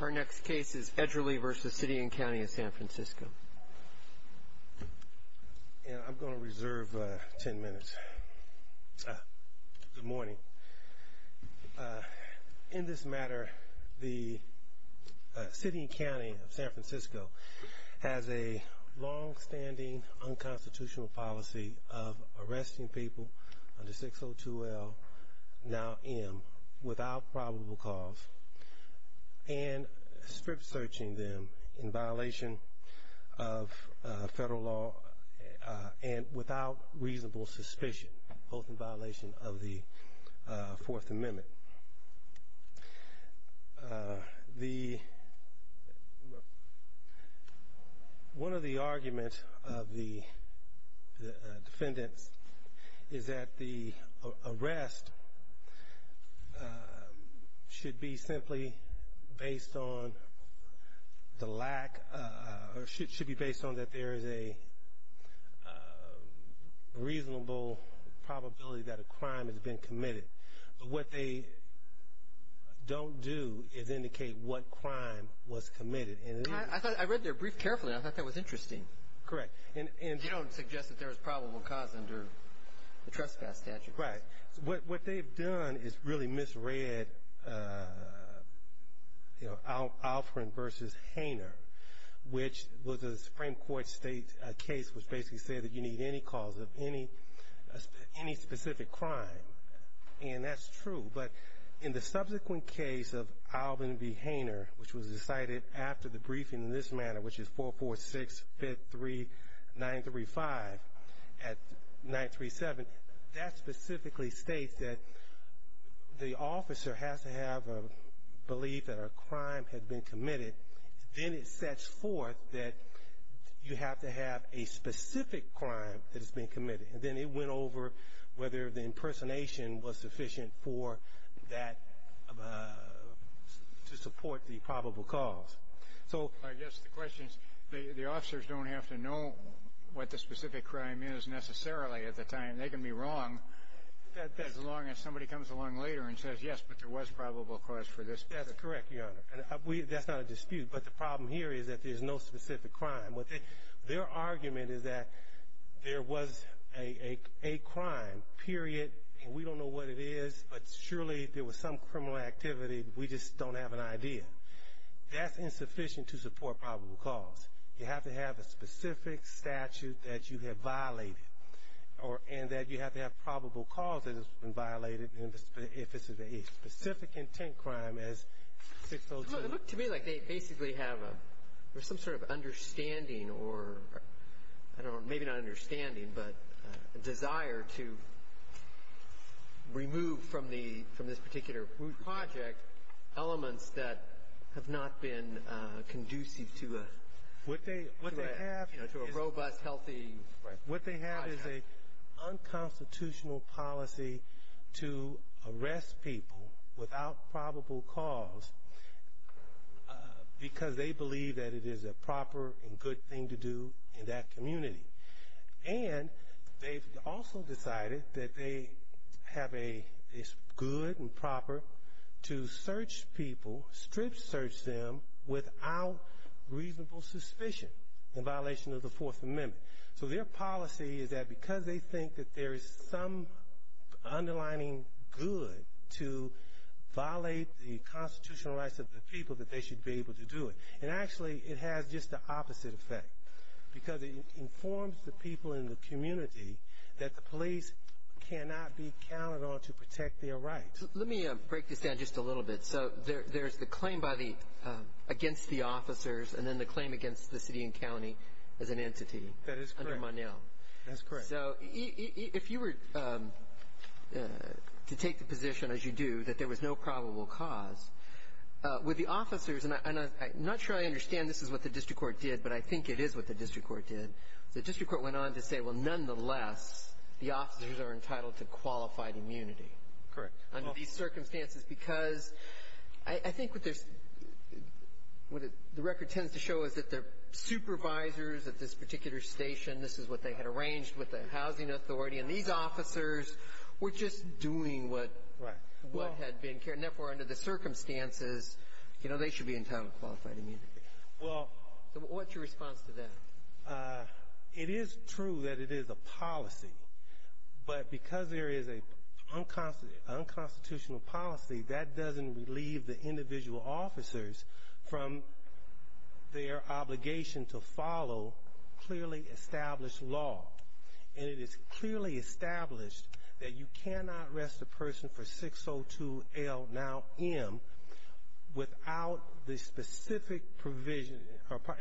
Our next case is Edgerly v. City and County of San Francisco. I'm going to reserve 10 minutes. Good morning. In this matter, the City and County of San Francisco has a long-standing unconstitutional policy of arresting people under 602L, now M, without probable cause and strip-searching them in violation of federal law and without reasonable suspicion, both in violation of the Fourth Amendment. One of the arguments of the defendants is that the arrest should be simply based on the lack or should be based on that there is a reasonable probability that a crime has been committed. What they don't do is indicate what crime was committed. I read their brief carefully. I thought that was interesting. Correct. They don't suggest that there is probable cause under the trespass statute. Right. What they've done is really misread Alfred v. Hainer, which was a Supreme Court case which basically said that you need any cause of any specific crime, and that's true. But in the subsequent case of Alvin v. Hainer, which was decided after the briefing in this manner, which is 446-53935 at 937, that specifically states that the officer has to have a belief that a crime had been committed. Then it sets forth that you have to have a specific crime that has been committed. And then it went over whether the impersonation was sufficient to support the probable cause. I guess the question is the officers don't have to know what the specific crime is necessarily at the time. They can be wrong as long as somebody comes along later and says, yes, but there was probable cause for this. That's correct, Your Honor. That's not a dispute, but the problem here is that there's no specific crime. Their argument is that there was a crime, period, and we don't know what it is, but surely there was some criminal activity. We just don't have an idea. That's insufficient to support probable cause. You have to have a specific statute that you have violated and that you have to have probable cause that has been violated if it's a specific intent crime as 602. It looked to me like they basically have some sort of understanding or maybe not understanding but a desire to remove from this particular project elements that have not been conducive to a robust, healthy project. What they have is an unconstitutional policy to arrest people without probable cause because they believe that it is a proper and good thing to do in that community. And they've also decided that they have a good and proper to search people, strip search them without reasonable suspicion in violation of the Fourth Amendment. So their policy is that because they think that there is some underlining good to violate the constitutional rights of the people that they should be able to do it. And actually, it has just the opposite effect because it informs the people in the community that the police cannot be counted on to protect their rights. Let me break this down just a little bit. So there's the claim against the officers and then the claim against the city and county as an entity under Monel. That's correct. So if you were to take the position, as you do, that there was no probable cause, with the officers, and I'm not sure I understand this is what the district court did, but I think it is what the district court did. The district court went on to say, well, nonetheless, the officers are entitled to qualified immunity. Correct. Under these circumstances because I think what the record tends to show is that the supervisors at this particular station, this is what they had arranged with the housing authority, and these officers were just doing what had been carried. Therefore, under the circumstances, they should be entitled to qualified immunity. So what's your response to that? It is true that it is a policy, but because there is an unconstitutional policy, that doesn't relieve the individual officers from their obligation to follow clearly established law. And it is clearly established that you cannot arrest a person for 602L, now M, without the specific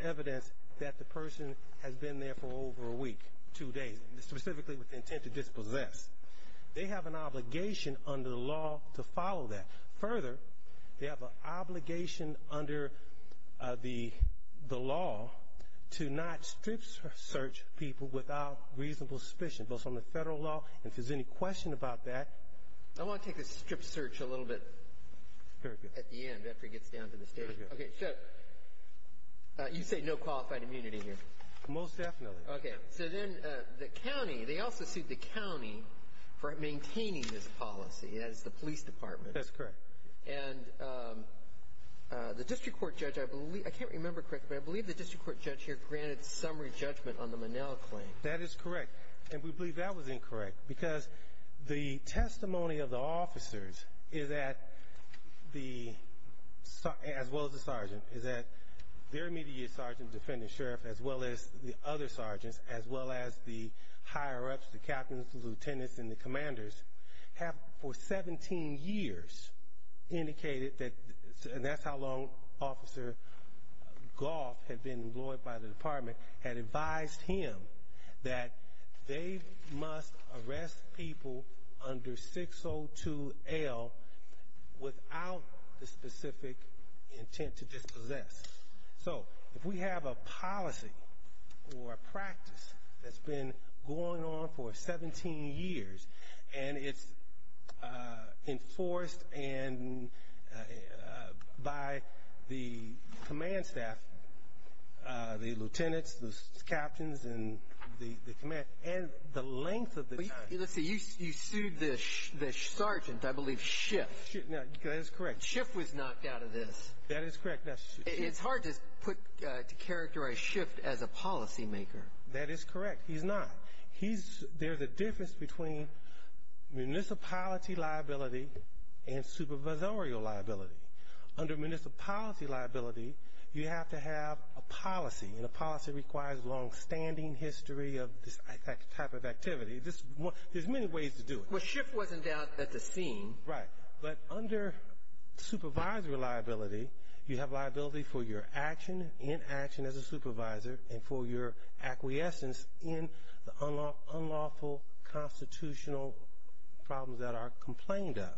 evidence that the person has been there for over a week, two days, specifically with the intent to dispossess. They have an obligation under the law to follow that. Further, they have an obligation under the law to not strip search people without reasonable suspicion, both from the federal law, and if there's any question about that. I want to take a strip search a little bit at the end after he gets down to the station. Okay. So you say no qualified immunity here. Most definitely. Okay. So then the county, they also sued the county for maintaining this policy. That is the police department. That's correct. And the district court judge, I can't remember correctly, but I believe the district court judge here granted summary judgment on the Monell claim. That is correct. And we believe that was incorrect because the testimony of the officers, as well as the sergeant, is that their immediate sergeant, defendant, sheriff, as well as the other sergeants, as well as the higher-ups, the captains, the lieutenants, and the commanders, have for 17 years indicated that, and that's how long Officer Goff had been employed by the department, had advised him that they must arrest people under 602L without the specific intent to dispossess. So if we have a policy or a practice that's been going on for 17 years and it's enforced by the command staff, the lieutenants, the captains, and the command, and the length of the time. Let's see, you sued the sergeant, I believe, Schiff. That is correct. Schiff was knocked out of this. That is correct. It's hard to characterize Schiff as a policymaker. That is correct. He's not. There's a difference between municipality liability and supervisorial liability. Under municipality liability, you have to have a policy, and a policy requires a longstanding history of this type of activity. There's many ways to do it. Well, Schiff was, in doubt, at the scene. Right. But under supervisory liability, you have liability for your action in action as a supervisor and for your acquiescence in the unlawful constitutional problems that are complained of.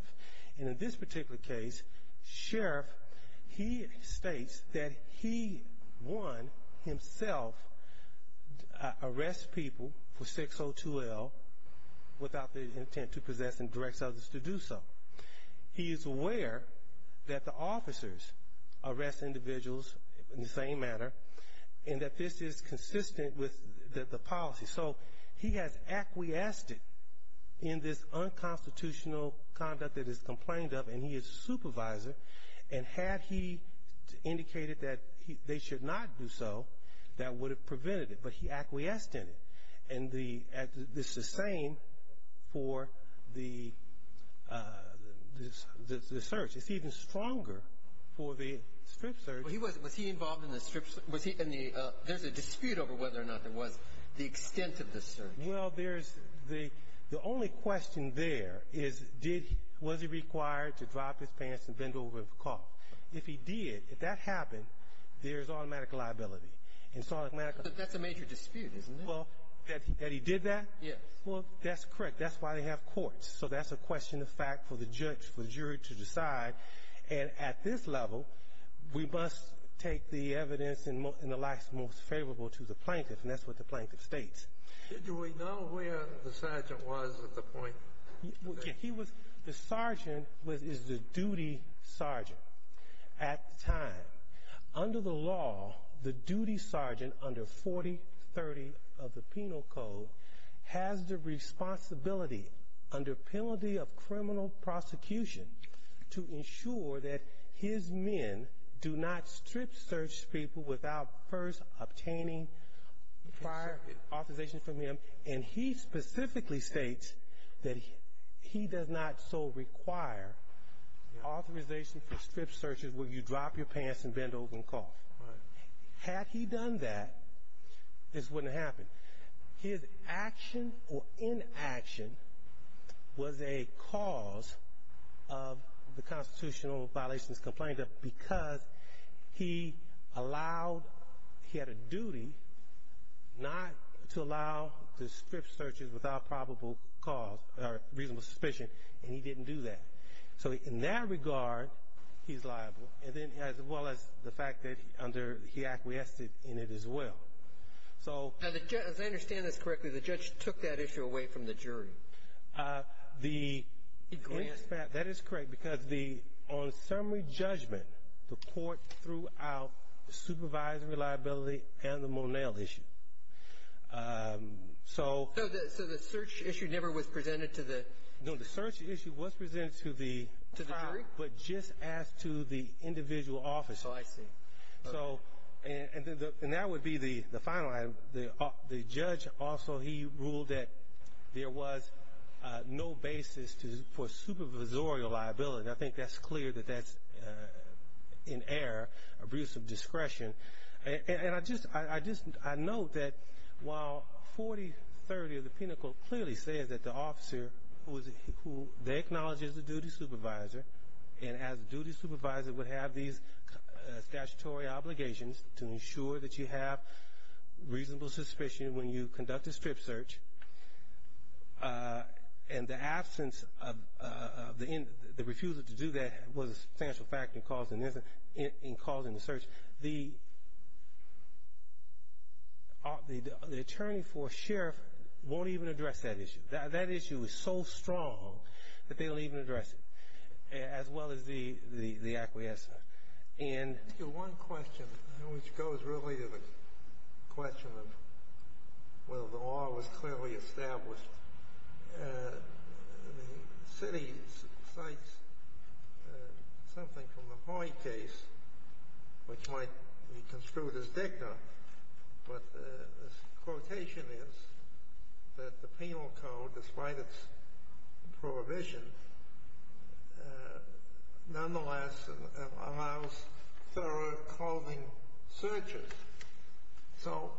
And in this particular case, Sheriff, he states that he, one, himself, arrests people for 602L without the intent to possess and directs others to do so. He is aware that the officers arrest individuals in the same manner and that this is consistent with the policy. So he has acquiesced in this unconstitutional conduct that is complained of, and he is a supervisor, and had he indicated that they should not do so, that would have prevented it. But he acquiesced in it. And this is the same for the search. It's even stronger for the strip search. Was he involved in the strip search? There's a dispute over whether or not there was the extent of the search. Well, there's the only question there is was he required to drop his pants and bend over and cough. If he did, if that happened, there's automatic liability. But that's a major dispute, isn't it? Well, that he did that? Yes. Well, that's correct. That's why they have courts. So that's a question of fact for the jury to decide. And at this level, we must take the evidence in the last most favorable to the plaintiff, and that's what the plaintiff states. Did we know where the sergeant was at the point? The sergeant is the duty sergeant at the time. Under the law, the duty sergeant under 4030 of the Penal Code has the responsibility under penalty of criminal prosecution to ensure that his men do not strip search people without first obtaining prior authorization from him. And he specifically states that he does not so require authorization for strip searches where you drop your pants and bend over and cough. Had he done that, this wouldn't have happened. His action or inaction was a cause of the constitutional violations complained of because he allowed, he had a duty not to allow the strip searches without probable cause or reasonable suspicion, and he didn't do that. So in that regard, he's liable, as well as the fact that he acquiesced in it as well. As I understand this correctly, the judge took that issue away from the jury? That is correct, because on summary judgment, the court threw out the supervisory liability and the Monell issue. So the search issue never was presented to the jury? No, the search issue was presented to the jury, but just as to the individual officer. Oh, I see. And that would be the final item. The judge also, he ruled that there was no basis for supervisorial liability. I think that's clear that that's in error, abuse of discretion. And I just note that while 4030 of the Penal Code clearly says that the officer, they acknowledge he's a duty supervisor, and as a duty supervisor would have these statutory obligations to ensure that you have reasonable suspicion when you conduct a strip search, and the absence of the refusal to do that was a substantial factor in causing the search, the attorney for a sheriff won't even address that issue. That issue is so strong that they don't even address it, as well as the acquiescer. I have one question, which goes really to the question of whether the law was clearly established. The city cites something from the Hoyt case, which might be construed as dicta, but the quotation is that the Penal Code, despite its prohibition, nonetheless allows thorough clothing searches. So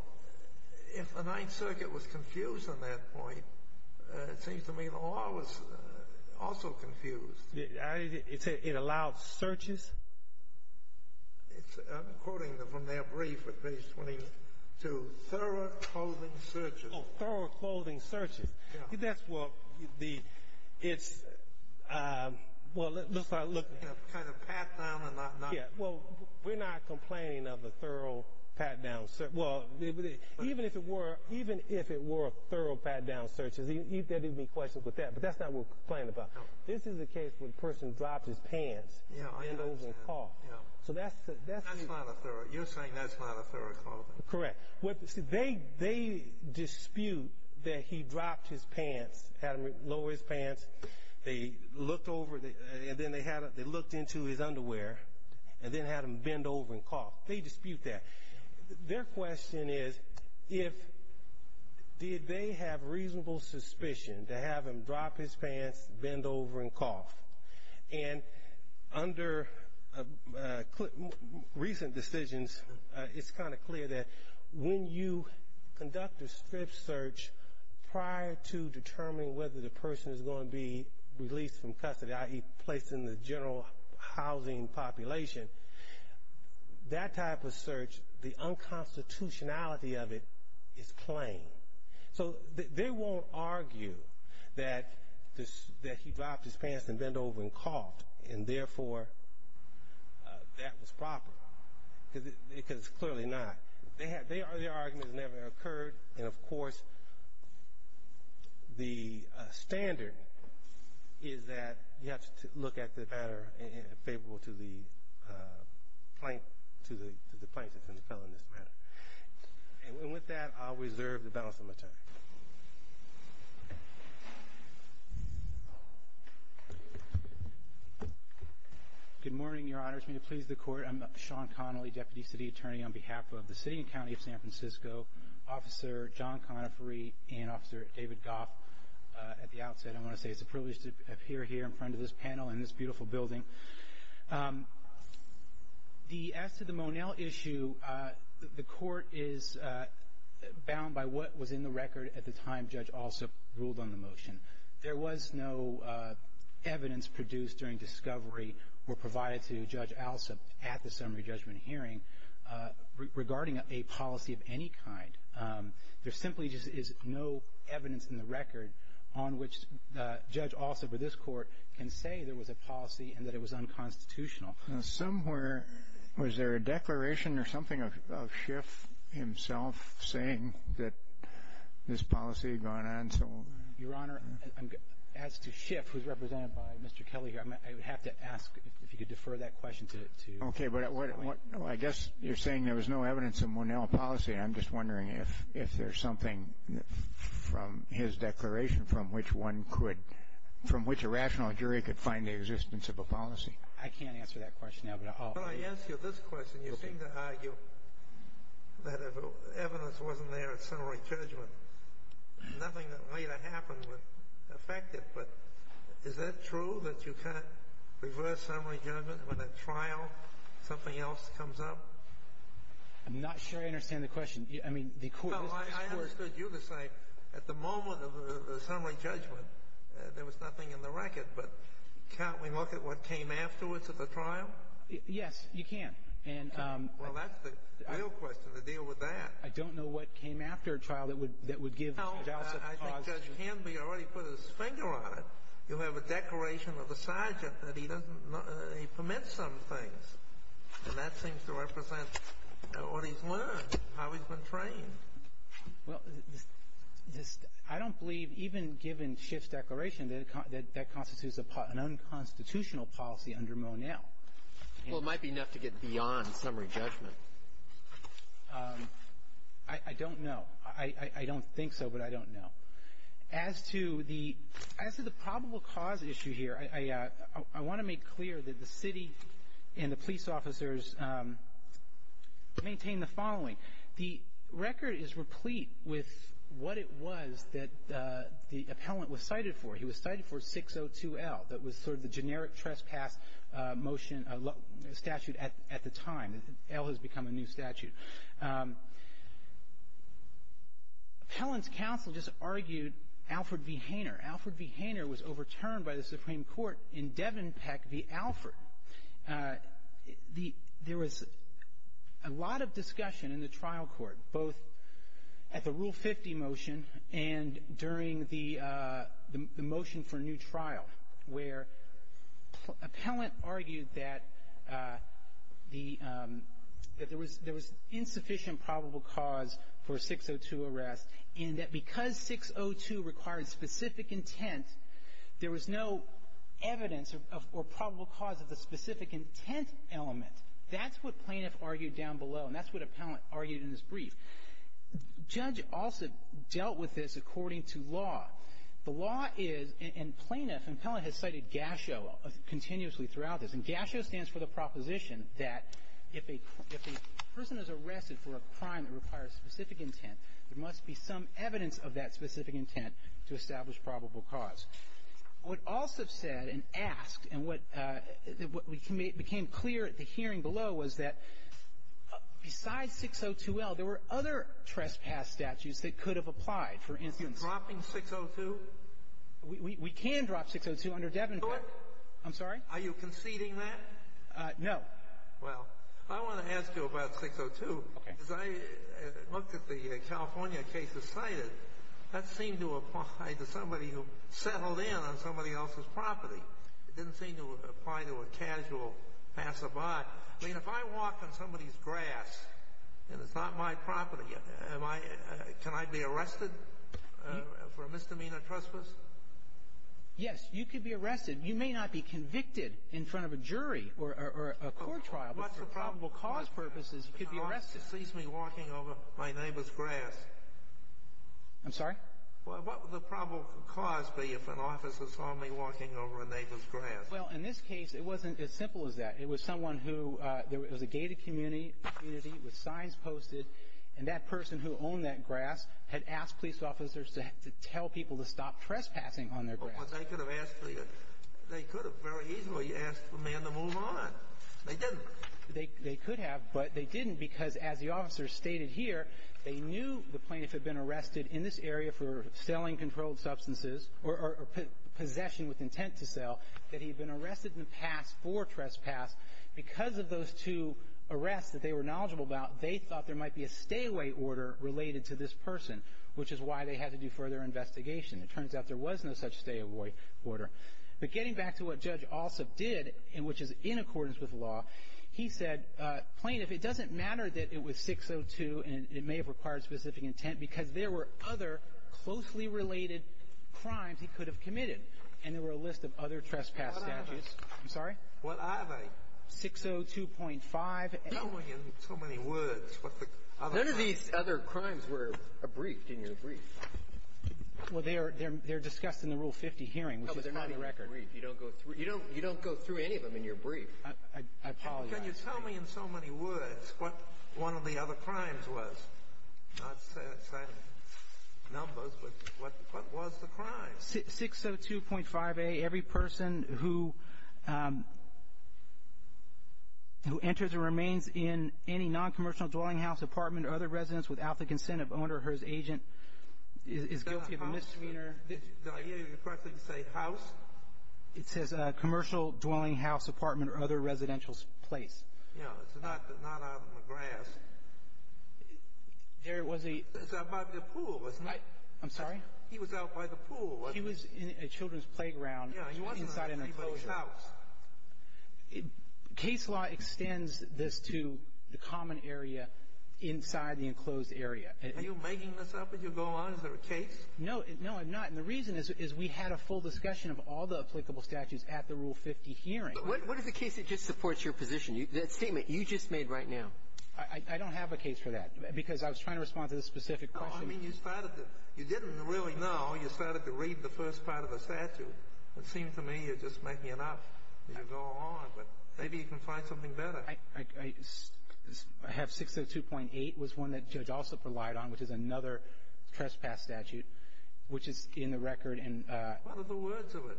if the Ninth Circuit was confused on that point, it seems to me the law was also confused. It allowed searches? I'm quoting from their brief at page 22, thorough clothing searches. Oh, thorough clothing searches. That's what the, it's, well, let's start looking. Kind of pat down and not. Yeah, well, we're not complaining of a thorough pat-down search. Well, even if it were, even if it were thorough pat-down searches, there'd be questions with that, but that's not what we're complaining about. This is a case where the person dropped his pants. Yeah, I understand. So that's. That's not a thorough, you're saying that's not a thorough clothing. They dispute that he dropped his pants, had him lower his pants. They looked over, and then they looked into his underwear and then had him bend over and cough. They dispute that. Their question is if, did they have reasonable suspicion to have him drop his pants, bend over, and cough? And under recent decisions, it's kind of clear that when you conduct a strip search prior to determining whether the person is going to be released from custody, i.e. placed in the general housing population, that type of search, the unconstitutionality of it is plain. So they won't argue that he dropped his pants and bent over and coughed, and therefore that was proper, because clearly not. Their argument has never occurred. And, of course, the standard is that you have to look at the matter favorable to the plaintiff and the felon in this matter. And with that, I'll reserve the balance of my time. Good morning, Your Honors. May it please the Court. I'm Sean Connolly, Deputy City Attorney on behalf of the City and County of San Francisco, Officer John Connifery, and Officer David Goff at the outset. I want to say it's a privilege to appear here in front of this panel in this beautiful building. As to the Monell issue, the Court is bound by what was in the record at the time Judge Alsup ruled on the motion. There was no evidence produced during discovery or provided to Judge Alsup at the summary judgment hearing regarding a policy of any kind. There simply is no evidence in the record on which Judge Alsup or this Court can say there was a policy and that it was unconstitutional. Somewhere, was there a declaration or something of Schiff himself saying that this policy had gone on? Your Honor, as to Schiff, who's represented by Mr. Kelly here, I would have to ask if you could defer that question to – Okay, but I guess you're saying there was no evidence of Monell policy, and I'm just wondering if there's something from his declaration from which one could – from which a rational jury could find the existence of a policy. I can't answer that question now, but I'll – Well, I ask you this question. You seem to argue that if evidence wasn't there at summary judgment, nothing that later happened would affect it. But is that true, that you can't reverse summary judgment when a trial, something else comes up? I'm not sure I understand the question. I mean, the Court – Well, I understood you to say at the moment of the summary judgment, there was nothing in the record. But can't we look at what came afterwards at the trial? Yes, you can. And – Well, that's the real question, to deal with that. I don't know what came after a trial that would give – Well, I think Judge Canby already put his finger on it. You have a declaration of a sergeant that he doesn't – he permits some things. And that seems to represent what he's learned, how he's been trained. Well, I don't believe, even given Schiff's declaration, that that constitutes an unconstitutional policy under Monell. Well, it might be enough to get beyond summary judgment. I don't know. I don't think so, but I don't know. As to the probable cause issue here, I want to make clear that the city and the police officers maintain the following. The record is replete with what it was that the appellant was cited for. He was cited for 602L. That was sort of the generic trespass motion statute at the time. L has become a new statute. Appellant's counsel just argued Alfred v. Hainer. Alfred v. Hainer was overturned by the Supreme Court in Devenpeck v. Alfred. There was a lot of discussion in the trial court, both at the Rule 50 motion and during the motion for new trial, where appellant argued that there was insufficient probable cause for a 602 arrest and that because 602 required specific intent, there was no evidence or probable cause of the specific intent element. That's what plaintiff argued down below, and that's what appellant argued in his brief. Judge also dealt with this according to law. The law is, and plaintiff and appellant has cited GASHO continuously throughout this, and GASHO stands for the proposition that if a person is arrested for a crime that requires specific intent, there must be some evidence of that specific intent to establish probable cause. What also said and asked and what became clear at the hearing below was that besides 602L, there were other trespass statutes that could have applied, for instance. Are you dropping 602? We can drop 602 under Devenpeck. Do it. I'm sorry? Are you conceding that? No. Well, I want to ask you about 602. Okay. As I looked at the California case decided, that seemed to apply to somebody who settled in on somebody else's property. It didn't seem to apply to a casual passerby. I mean, if I walk on somebody's grass and it's not my property, can I be arrested for a misdemeanor trespass? Yes, you could be arrested. You may not be convicted in front of a jury or a court trial, but for probable cause purposes, you could be arrested. What if the officer sees me walking over my neighbor's grass? I'm sorry? Well, what would the probable cause be if an officer saw me walking over a neighbor's grass? Well, in this case, it wasn't as simple as that. It was someone who there was a gated community with signs posted, and that person who owned that grass had asked police officers to tell people to stop trespassing on their grass. Well, they could have asked for you. They could have very easily asked for a man to move on. They didn't. They could have, but they didn't because, as the officer stated here, they knew the plaintiff had been arrested in this area for selling controlled substances or possession with intent to sell, that he had been arrested in the past for trespass. Because of those two arrests that they were knowledgeable about, they thought there might be a stay-away order related to this person, which is why they had to do further investigation. It turns out there was no such stay-away order. But getting back to what Judge Alsop did, which is in accordance with law, he said, Plaintiff, it doesn't matter that it was 602 and it may have required specific intent because there were other closely related crimes he could have committed, and there were a list of other trespass statutes. I'm sorry? What are they? 602.5. No, in so many words. None of these other crimes were abriefed in your brief. Well, they're discussed in the Rule 50 hearing. No, but they're not in your brief. You don't go through any of them in your brief. I apologize. Can you tell me in so many words what one of the other crimes was? Not say numbers, but what was the crime? 602.5a, every person who enters or remains in any non-commercial dwelling house, apartment, or other residence without the consent of owner or his agent is guilty of a misdemeanor. Is that a house? Did I hear you correctly say house? It says a commercial dwelling house, apartment, or other residential place. Yeah, it's not out on the grass. There was a – It was out by the pool, wasn't it? I'm sorry? He was out by the pool, wasn't he? He was in a children's playground inside an enclosure. Yeah, he wasn't out by anybody's house. Case law extends this to the common area inside the enclosed area. Are you making this up as you go on? Is there a case? No. No, I'm not. And the reason is we had a full discussion of all the applicable statutes at the Rule 50 hearing. But what is the case that just supports your position, that statement you just made right now? I don't have a case for that because I was trying to respond to the specific question. I mean, you started to – you didn't really know. You started to read the first part of the statute. It seems to me you're just making it up as you go along. But maybe you can find something better. I have 602.8 was one that Judge Alsop relied on, which is another trespass statute, which is in the record. What are the words of it?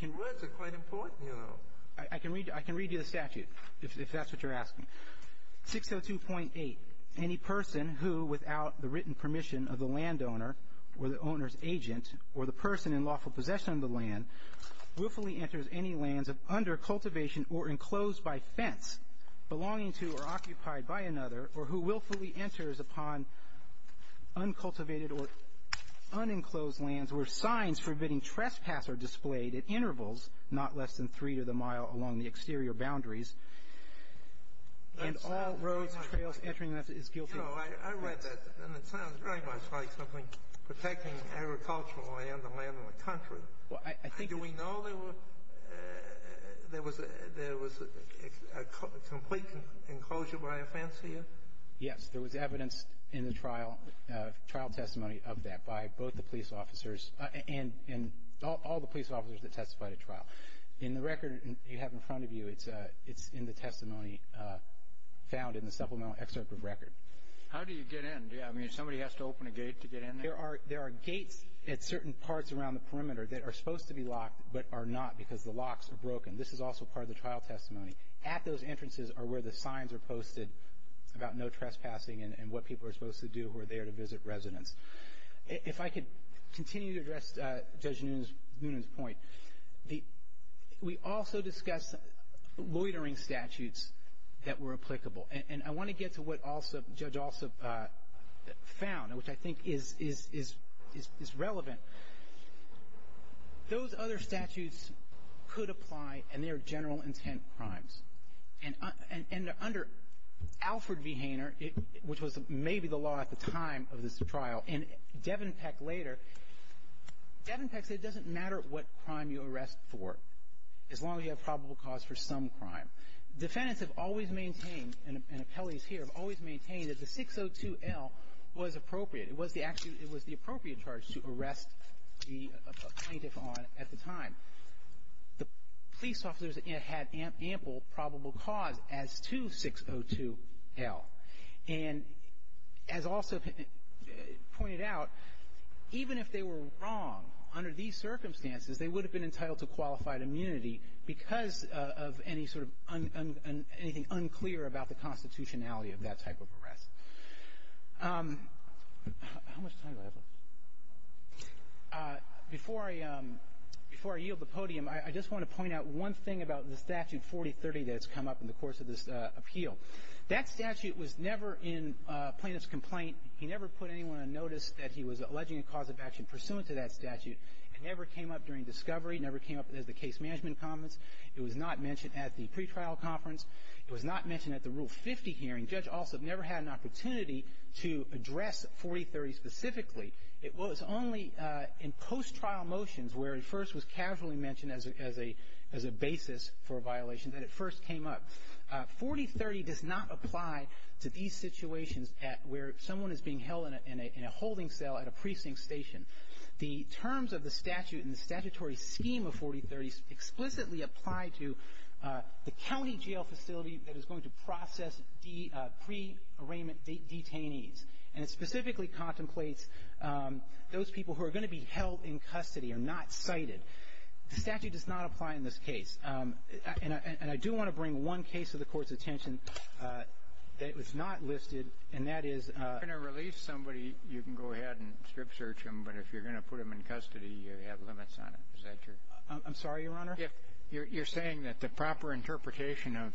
The words are quite important, you know. I can read you the statute, if that's what you're asking. 602.8. Any person who, without the written permission of the landowner or the owner's agent or the person in lawful possession of the land, willfully enters any lands of under-cultivation or enclosed by fence, belonging to or occupied by another, or who willfully enters upon uncultivated or unenclosed lands where signs forbidding trespass are displayed at intervals not less than three to the mile along the exterior boundaries and all roads and trails entering that is guilty. You know, I read that, and it sounds very much like something protecting agricultural land, the land of the country. Do we know there was a complete enclosure by a fence here? Yes. There was evidence in the trial testimony of that by both the police officers and all the police officers that testified at trial. In the record you have in front of you, it's in the testimony found in the supplemental excerpt of record. How do you get in? I mean, somebody has to open a gate to get in there? There are gates at certain parts around the perimeter that are supposed to be locked but are not because the locks are broken. This is also part of the trial testimony. At those entrances are where the signs are posted about no trespassing and what people are supposed to do who are there to visit residents. If I could continue to address Judge Noonan's point, we also discussed loitering statutes that were applicable. And I want to get to what Judge Alsup found, which I think is relevant. Those other statutes could apply, and they are general intent crimes. And under Alfred V. Hainer, which was maybe the law at the time of this trial, and Devin Peck later, Devin Peck said it doesn't matter what crime you arrest for as long as you have probable cause for some crime. Defendants have always maintained, and appellees here, have always maintained that the 602L was appropriate. It was the appropriate charge to arrest the plaintiff on at the time. The police officers had ample probable cause as to 602L. And as Alsup pointed out, even if they were wrong under these circumstances, they would have been entitled to qualified immunity because of any sort of anything unclear about the constitutionality of that type of arrest. How much time do I have left? Before I yield the podium, I just want to point out one thing about the statute 4030 that has come up in the course of this appeal. That statute was never in plaintiff's complaint. He never put anyone on notice that he was alleging a cause of action pursuant to that statute. It never came up during discovery. It never came up as the case management comments. It was not mentioned at the pretrial conference. It was not mentioned at the Rule 50 hearing. Judge Alsup never had an opportunity to address 4030 specifically. It was only in post-trial motions where it first was casually mentioned as a basis for a violation that it first came up. 4030 does not apply to these situations where someone is being held in a holding cell at a precinct station. The terms of the statute and the statutory scheme of 4030 explicitly apply to the county jail facility that is going to process pre-arraignment detainees. And it specifically contemplates those people who are going to be held in custody or not cited. The statute does not apply in this case. And I do want to bring one case to the Court's attention that was not listed, and that is ---- If you're going to release somebody, you can go ahead and strip search them. But if you're going to put them in custody, you have limits on it. Is that your ---- I'm sorry, Your Honor. You're saying that the proper interpretation of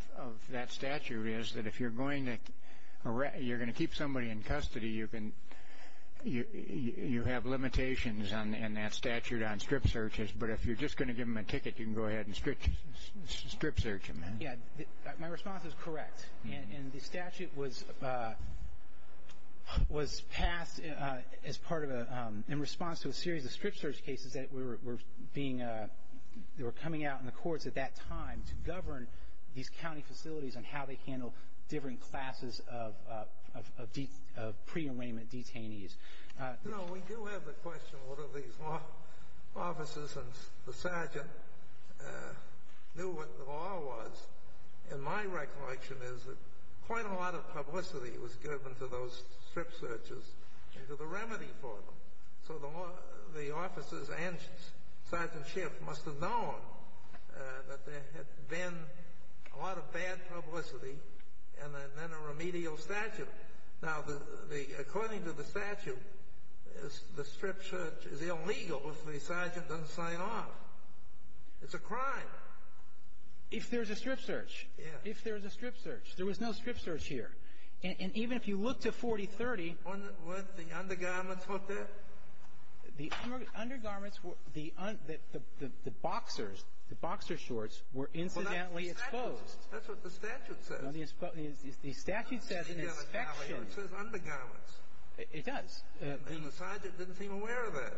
that statute is that if you're going to keep somebody in custody, you have limitations on that statute on strip searches. But if you're just going to give them a ticket, you can go ahead and strip search them. Yes. My response is correct. And the statute was passed as part of a ---- in response to a series of strip search cases that were being ---- that were coming out in the courts at that time to govern these county facilities on how they handle different classes of pre-arraignment detainees. You know, we do have the question, what if these officers and the sergeant knew what the law was? And my recollection is that quite a lot of publicity was given to those strip searches and to the remedy for them. So the officers and Sergeant Schiff must have known that there had been a lot of bad publicity and then a remedial statute. Now, according to the statute, the strip search is illegal if the sergeant doesn't sign off. It's a crime. If there's a strip search. Yes. If there's a strip search. There was no strip search here. And even if you look to 4030 ---- Were the undergarments not there? The undergarments were the boxers, the boxer shorts were incidentally exposed. That's what the statute says. The statute says an inspection. It says undergarments. It does. And the sergeant didn't seem aware of that.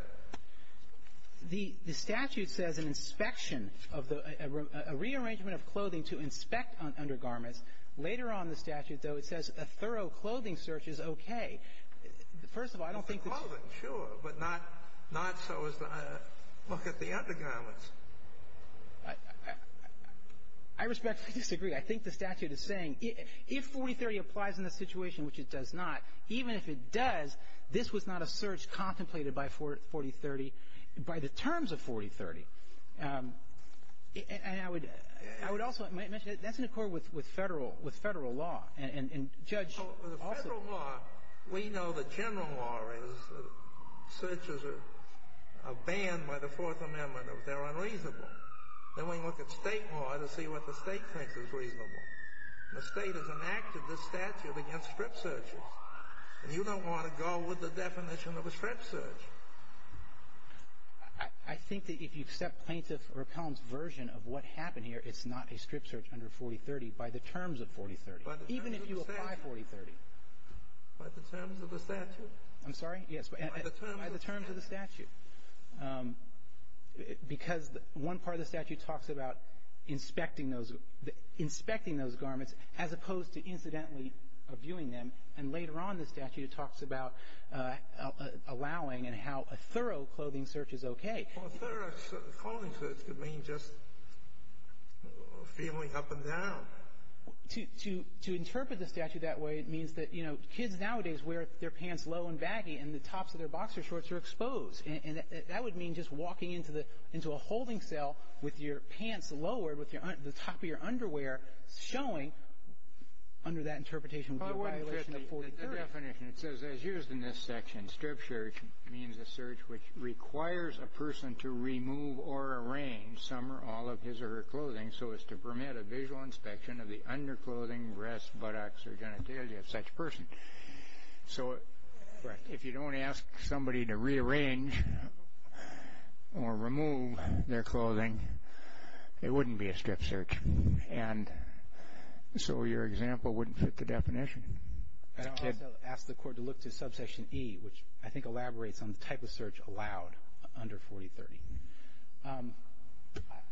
The statute says an inspection of the ---- a rearrangement of clothing to inspect undergarments. Later on in the statute, though, it says a thorough clothing search is okay. First of all, I don't think that's ---- The clothing, sure, but not so as to look at the undergarments. I respectfully disagree. I think the statute is saying if 4030 applies in this situation, which it does not, even if it does, this was not a search contemplated by 4030 by the terms of 4030. And I would also mention that's in accord with federal law. And Judge also ---- The federal law, we know the general law is searches are banned by the Fourth Amendment. They're unreasonable. Then we look at state law to see what the state thinks is reasonable. The state has enacted this statute against strip searches. And you don't want to go with the definition of a strip search. I think that if you accept Plaintiff Raquelm's version of what happened here, it's not a strip search under 4030 by the terms of 4030, even if you apply 4030. By the terms of the statute? I'm sorry? Yes, by the terms of the statute. Because one part of the statute talks about inspecting those garments, as opposed to incidentally viewing them. And later on in the statute it talks about allowing and how a thorough clothing search is okay. A thorough clothing search could mean just feeling up and down. To interpret the statute that way means that, you know, kids nowadays wear their pants low and baggy and the tops of their boxer shorts are exposed. And that would mean just walking into a holding cell with your pants lowered, with the top of your underwear showing, under that interpretation would be a violation of 4030. The definition, it says, as used in this section, strip search means a search which requires a person to remove or arrange some or all of his or her clothing so as to permit a visual inspection of the underclothing, breasts, buttocks, or genitalia of such person. So if you don't ask somebody to rearrange or remove their clothing, it wouldn't be a strip search. And so your example wouldn't fit the definition. I also ask the Court to look to Subsection E, which I think elaborates on the type of search allowed under 4030.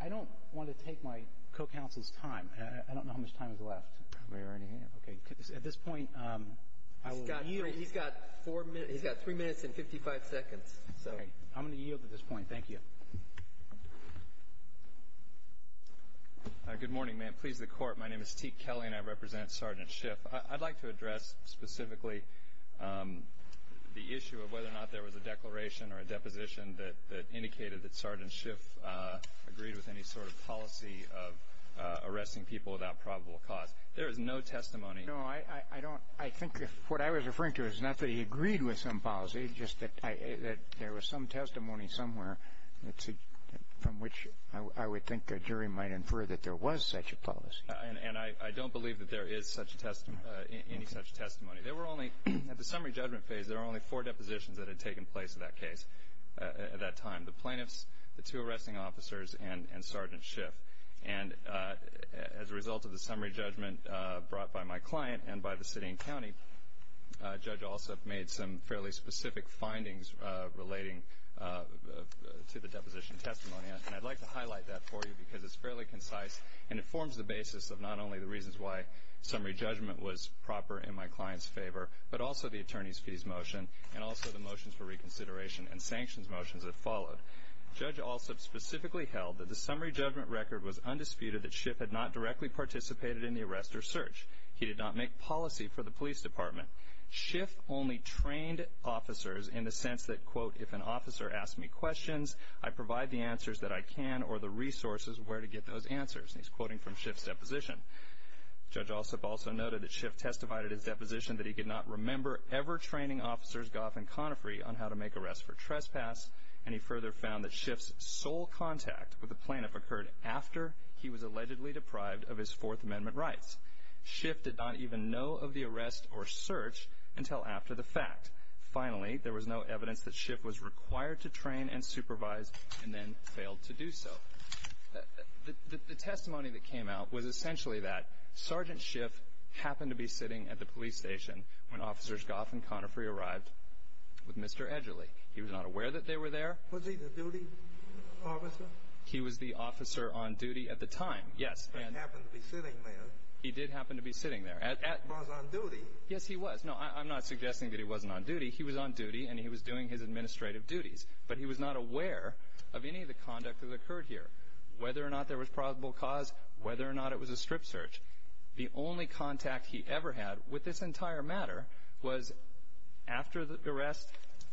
I don't want to take my co-counsel's time. I don't know how much time is left. We already have. Okay. At this point, I will yield. He's got three minutes and 55 seconds. Okay. I'm going to yield at this point. Thank you. Good morning. May it please the Court. My name is T. Kelly, and I represent Sergeant Schiff. I'd like to address specifically the issue of whether or not there was a declaration or a deposition that indicated that Sergeant Schiff agreed with any sort of policy of arresting people without probable cause. There is no testimony. No, I think what I was referring to is not that he agreed with some policy, just that there was some testimony somewhere from which I would think a jury might infer that there was such a policy. And I don't believe that there is any such testimony. At the summary judgment phase, there were only four depositions that had taken place in that case at that time, the plaintiffs, the two arresting officers, and Sergeant Schiff. And as a result of the summary judgment brought by my client and by the city and county, Judge Alsup made some fairly specific findings relating to the deposition testimony. And I'd like to highlight that for you because it's fairly concise, and it forms the basis of not only the reasons why summary judgment was proper in my client's favor, but also the attorney's fees motion and also the motions for reconsideration and sanctions motions that followed. Judge Alsup specifically held that the summary judgment record was undisputed, that Schiff had not directly participated in the arrest or search. He did not make policy for the police department. Schiff only trained officers in the sense that, quote, if an officer asked me questions, I provide the answers that I can or the resources where to get those answers. And he's quoting from Schiff's deposition. Judge Alsup also noted that Schiff testified at his deposition that he could not remember ever training officers, Goff and Conafree, on how to make arrests for trespass, and he further found that Schiff's sole contact with a plaintiff occurred after he was allegedly deprived of his Fourth Amendment rights. Schiff did not even know of the arrest or search until after the fact. Finally, there was no evidence that Schiff was required to train and supervise and then failed to do so. The testimony that came out was essentially that Sergeant Schiff happened to be sitting at the police station when Officers Goff and Conafree arrived with Mr. Edgerly. He was not aware that they were there. Was he the duty officer? He was the officer on duty at the time, yes. He happened to be sitting there. He did happen to be sitting there. He was on duty. Yes, he was. No, I'm not suggesting that he wasn't on duty. He was on duty and he was doing his administrative duties, but he was not aware of any of the conduct that occurred here, whether or not there was probable cause, whether or not it was a strip search. The only contact he ever had with this entire matter was after the arrest,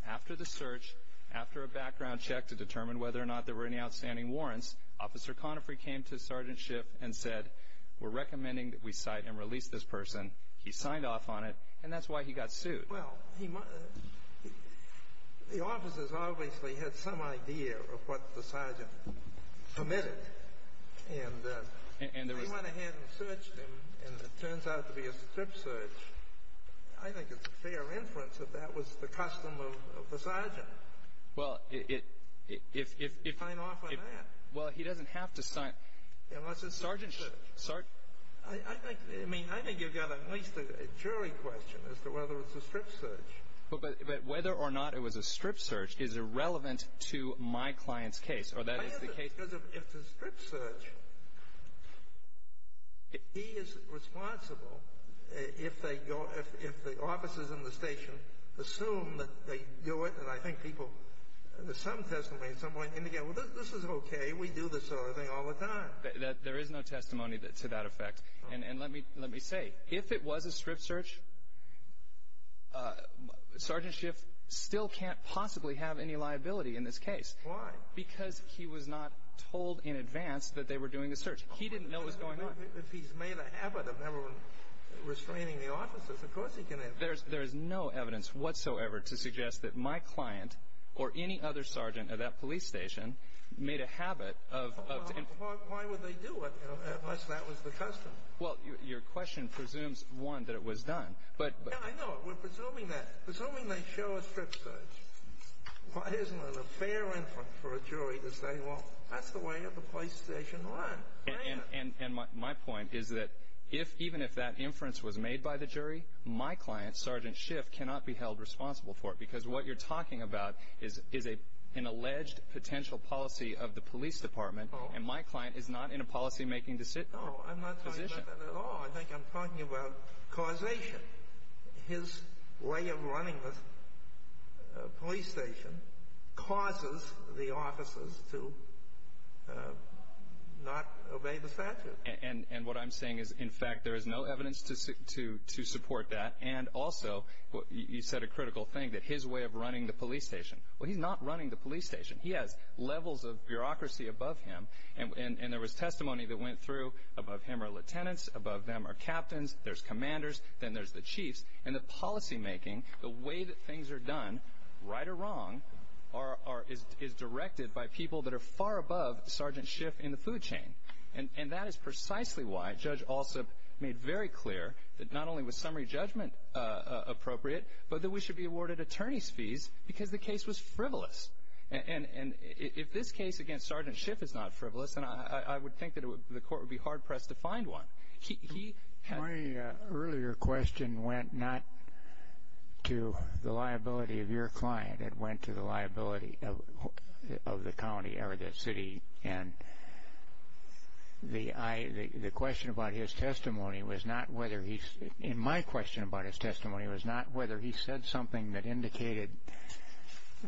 after the search, after a background check to determine whether or not there were any outstanding warrants, Officer Conafree came to Sergeant Schiff and said, We're recommending that we cite and release this person. He signed off on it, and that's why he got sued. Well, the officers obviously had some idea of what the sergeant committed, and they went ahead and searched him, and it turns out to be a strip search. I think it's a fair inference that that was the custom of the sergeant to sign off on that. Well, he doesn't have to sign. Unless it's a strip search. I think you've got at least a jury question as to whether it's a strip search. But whether or not it was a strip search is irrelevant to my client's case, or that is the case. Because if it's a strip search, he is responsible if the officers in the station assume that they do it. And I think people, there's some testimony at some point, indicate, well, this is okay. We do this sort of thing all the time. There is no testimony to that effect. And let me say, if it was a strip search, Sergeant Schiff still can't possibly have any liability in this case. Why? Because he was not told in advance that they were doing a search. He didn't know what was going on. If he's made a habit of never restraining the officers, of course he can have that. There is no evidence whatsoever to suggest that my client or any other sergeant at that police station made a habit of – Why would they do it, unless that was the custom? Well, your question presumes, one, that it was done. Yeah, I know. We're presuming that. Presuming they show a strip search. Why isn't it a fair inference for a jury to say, well, that's the way that the police station runs? And my point is that even if that inference was made by the jury, my client, Sergeant Schiff, cannot be held responsible for it. Because what you're talking about is an alleged potential policy of the police department, and my client is not in a policymaking position. No, I'm not talking about that at all. I think I'm talking about causation. His way of running the police station causes the officers to not obey the statute. And what I'm saying is, in fact, there is no evidence to support that. And also, you said a critical thing, that his way of running the police station. Well, he's not running the police station. He has levels of bureaucracy above him, and there was testimony that went through, above him are lieutenants, above them are captains, there's commanders, then there's the chiefs. And the policymaking, the way that things are done, right or wrong, is directed by people that are far above Sergeant Schiff in the food chain. And that is precisely why Judge Alsup made very clear that not only was summary judgment appropriate, but that we should be awarded attorney's fees because the case was frivolous. And if this case against Sergeant Schiff is not frivolous, then I would think that the court would be hard-pressed to find one. My earlier question went not to the liability of your client. It went to the liability of the county or the city. And the question about his testimony was not whether he, in my question about his testimony, was not whether he said something that indicated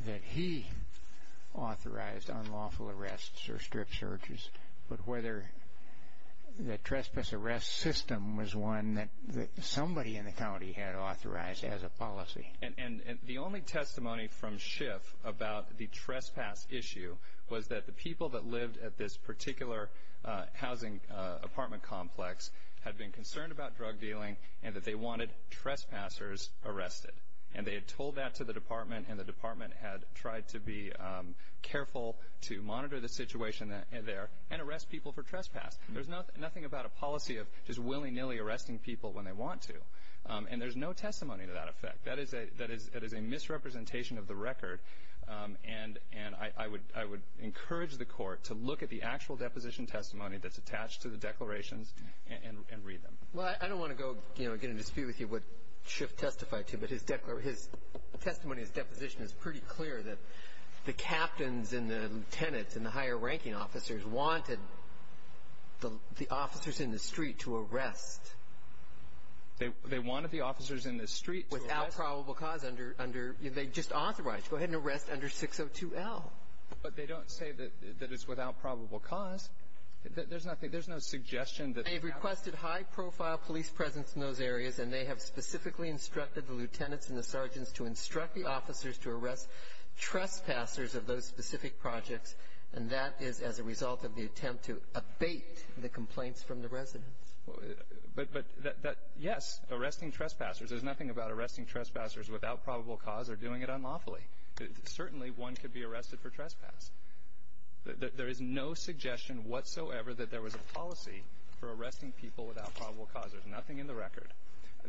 that he authorized unlawful arrests or strip searches, but whether the trespass arrest system was one that somebody in the county had authorized as a policy. And the only testimony from Schiff about the trespass issue was that the people that lived at this particular housing apartment complex had been concerned about drug dealing and that they wanted trespassers arrested. And they had told that to the department, and the department had tried to be careful to monitor the situation there and arrest people for trespass. There's nothing about a policy of just willy-nilly arresting people when they want to. And there's no testimony to that effect. That is a misrepresentation of the record. And I would encourage the court to look at the actual deposition testimony that's attached to the declarations and read them. Well, I don't want to go, you know, get in a dispute with you what Schiff testified to, but his testimony, his deposition is pretty clear that the captains and the lieutenants and the higher-ranking officers wanted the officers in the street to arrest. They wanted the officers in the street to arrest? Without probable cause, under they just authorized. Go ahead and arrest under 602L. But they don't say that it's without probable cause. There's nothing. They've requested high-profile police presence in those areas, and they have specifically instructed the lieutenants and the sergeants to instruct the officers to arrest trespassers of those specific projects, and that is as a result of the attempt to abate the complaints from the residents. But, yes, arresting trespassers. There's nothing about arresting trespassers without probable cause or doing it unlawfully. Certainly one could be arrested for trespass. There is no suggestion whatsoever that there was a policy for arresting people without probable cause. There's nothing in the record.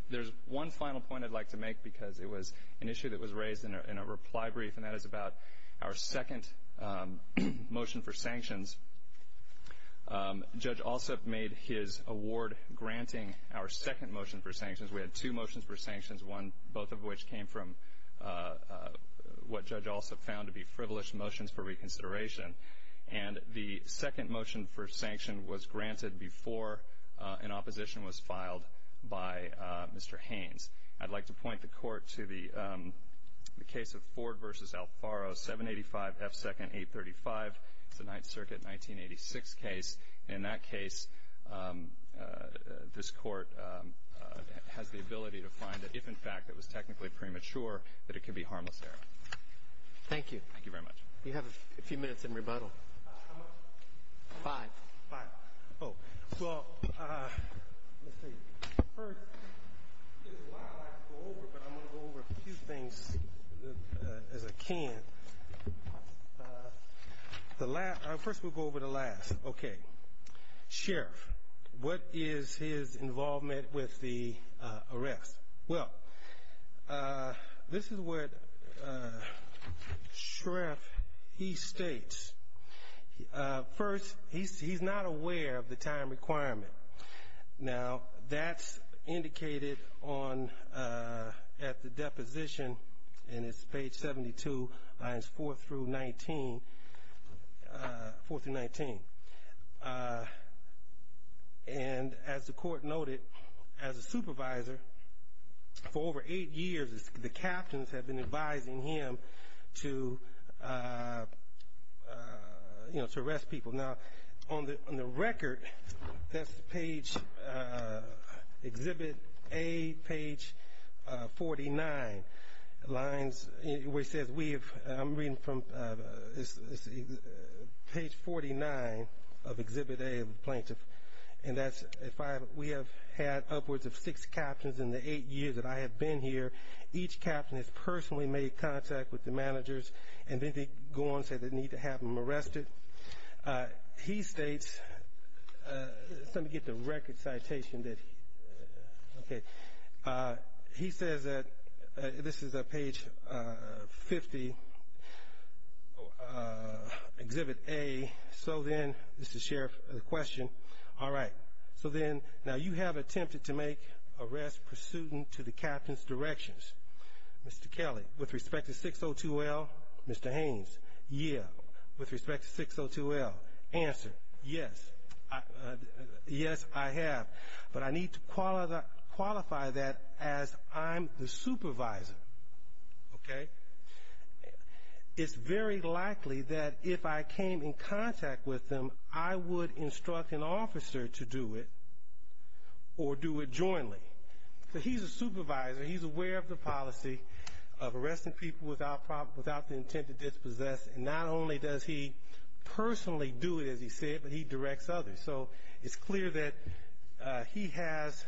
There's one final point I'd like to make because it was an issue that was raised in a reply brief, and that is about our second motion for sanctions. Judge Alsop made his award granting our second motion for sanctions. We had two motions for sanctions, one both of which came from what Judge Alsop found to be privileged motions for reconsideration, and the second motion for sanction was granted before an opposition was filed by Mr. Haynes. I'd like to point the Court to the case of Ford v. Alfaro, 785 F. 2nd 835. It's a Ninth Circuit 1986 case. In that case, this Court has the ability to find that if, in fact, it was technically premature, that it could be harmless error. Thank you. Thank you very much. You have a few minutes in rebuttal. How much? Five. Five. Oh. Well, let's see. First, there's a lot I'd like to go over, but I'm going to go over a few things as I can. First we'll go over the last. Okay. Sheriff, what is his involvement with the arrest? Well, this is what Sheriff, he states. First, he's not aware of the time requirement. Now, that's indicated at the deposition, and it's page 72, lines 4 through 19. And as the Court noted, as a supervisor, for over eight years, the captains have been advising him to arrest people. Now, on the record, that's page, Exhibit A, page 49, lines, where it says we have, I'm reading from, page 49 of Exhibit A of the plaintiff. And that's, we have had upwards of six captains in the eight years that I have been here. Each captain has personally made contact with the managers, and they go on and say they need to have him arrested. He states, let me get the record citation that, okay. He says that, this is page 50, Exhibit A, so then, this is Sheriff, the question, all right. So then, now you have attempted to make arrests pursuant to the captain's directions. Mr. Kelly, with respect to 602L, Mr. Haynes, yeah. With respect to 602L, answer, yes. Yes, I have. But I need to qualify that as I'm the supervisor, okay. It's very likely that if I came in contact with them, I would instruct an officer to do it or do it jointly. So he's a supervisor. He's aware of the policy of arresting people without the intent to dispossess, and not only does he personally do it, as he said, but he directs others. So it's clear that he has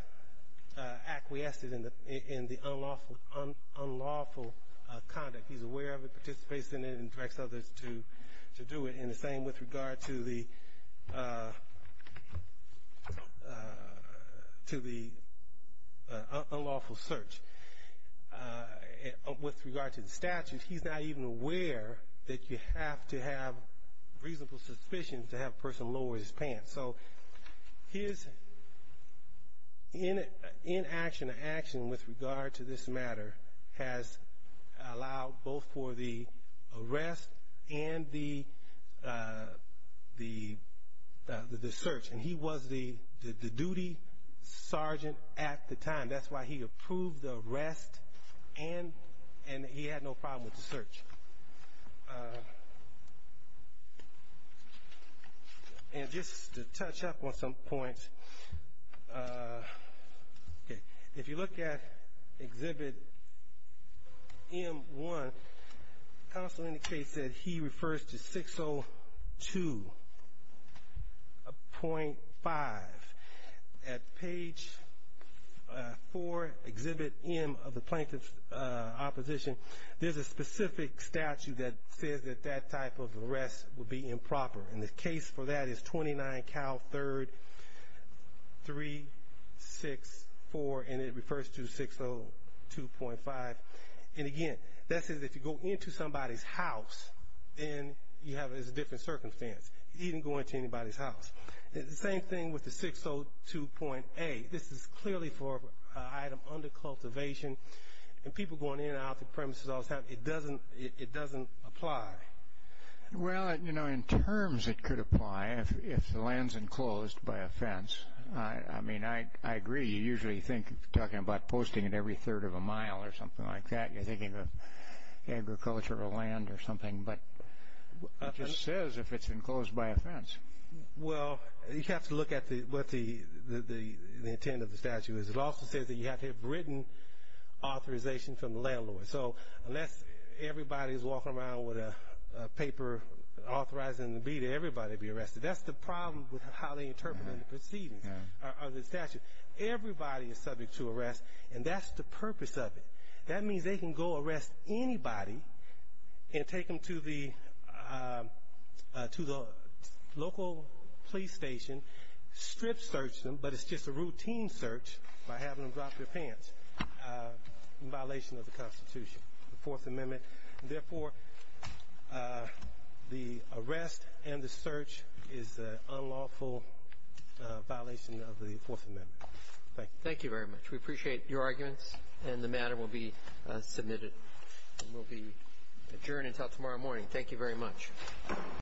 acquiesced in the unlawful conduct. He's aware of it, participates in it, and directs others to do it. And the same with regard to the unlawful search. With regard to the statute, he's not even aware that you have to have reasonable suspicion to have a person lower his pants. So his inaction or action with regard to this matter has allowed both for the arrest and the search. And he was the duty sergeant at the time. That's why he approved the arrest, and he had no problem with the search. And just to touch up on some points, if you look at Exhibit M1, the counsel indicates that he refers to 602.5. At Page 4, Exhibit M of the Plaintiff's Opposition, there's a specific statute that says that that type of arrest would be improper. And the case for that is 29 Cal 3364, and it refers to 602.5. And, again, that says if you go into somebody's house, then you have a different circumstance. You didn't go into anybody's house. The same thing with the 602.8. This is clearly for an item under cultivation, and people going in and out of the premises all the time. It doesn't apply. Well, you know, in terms it could apply if the land's enclosed by a fence. I mean, I agree. You usually think of talking about posting it every third of a mile or something like that. You're thinking of agricultural land or something, but it just says if it's enclosed by a fence. Well, you have to look at what the intent of the statute is. It also says that you have to have written authorization from the landlord. So unless everybody's walking around with a paper authorizing everybody to be arrested, that's the problem with how they interpret the statutes. Everybody is subject to arrest, and that's the purpose of it. That means they can go arrest anybody and take them to the local police station, strip search them, but it's just a routine search by having them drop their pants in violation of the Constitution, the Fourth Amendment. Therefore, the arrest and the search is an unlawful violation of the Fourth Amendment. Thank you. Thank you very much. We appreciate your arguments, and the matter will be submitted and will be adjourned until tomorrow morning. Thank you very much.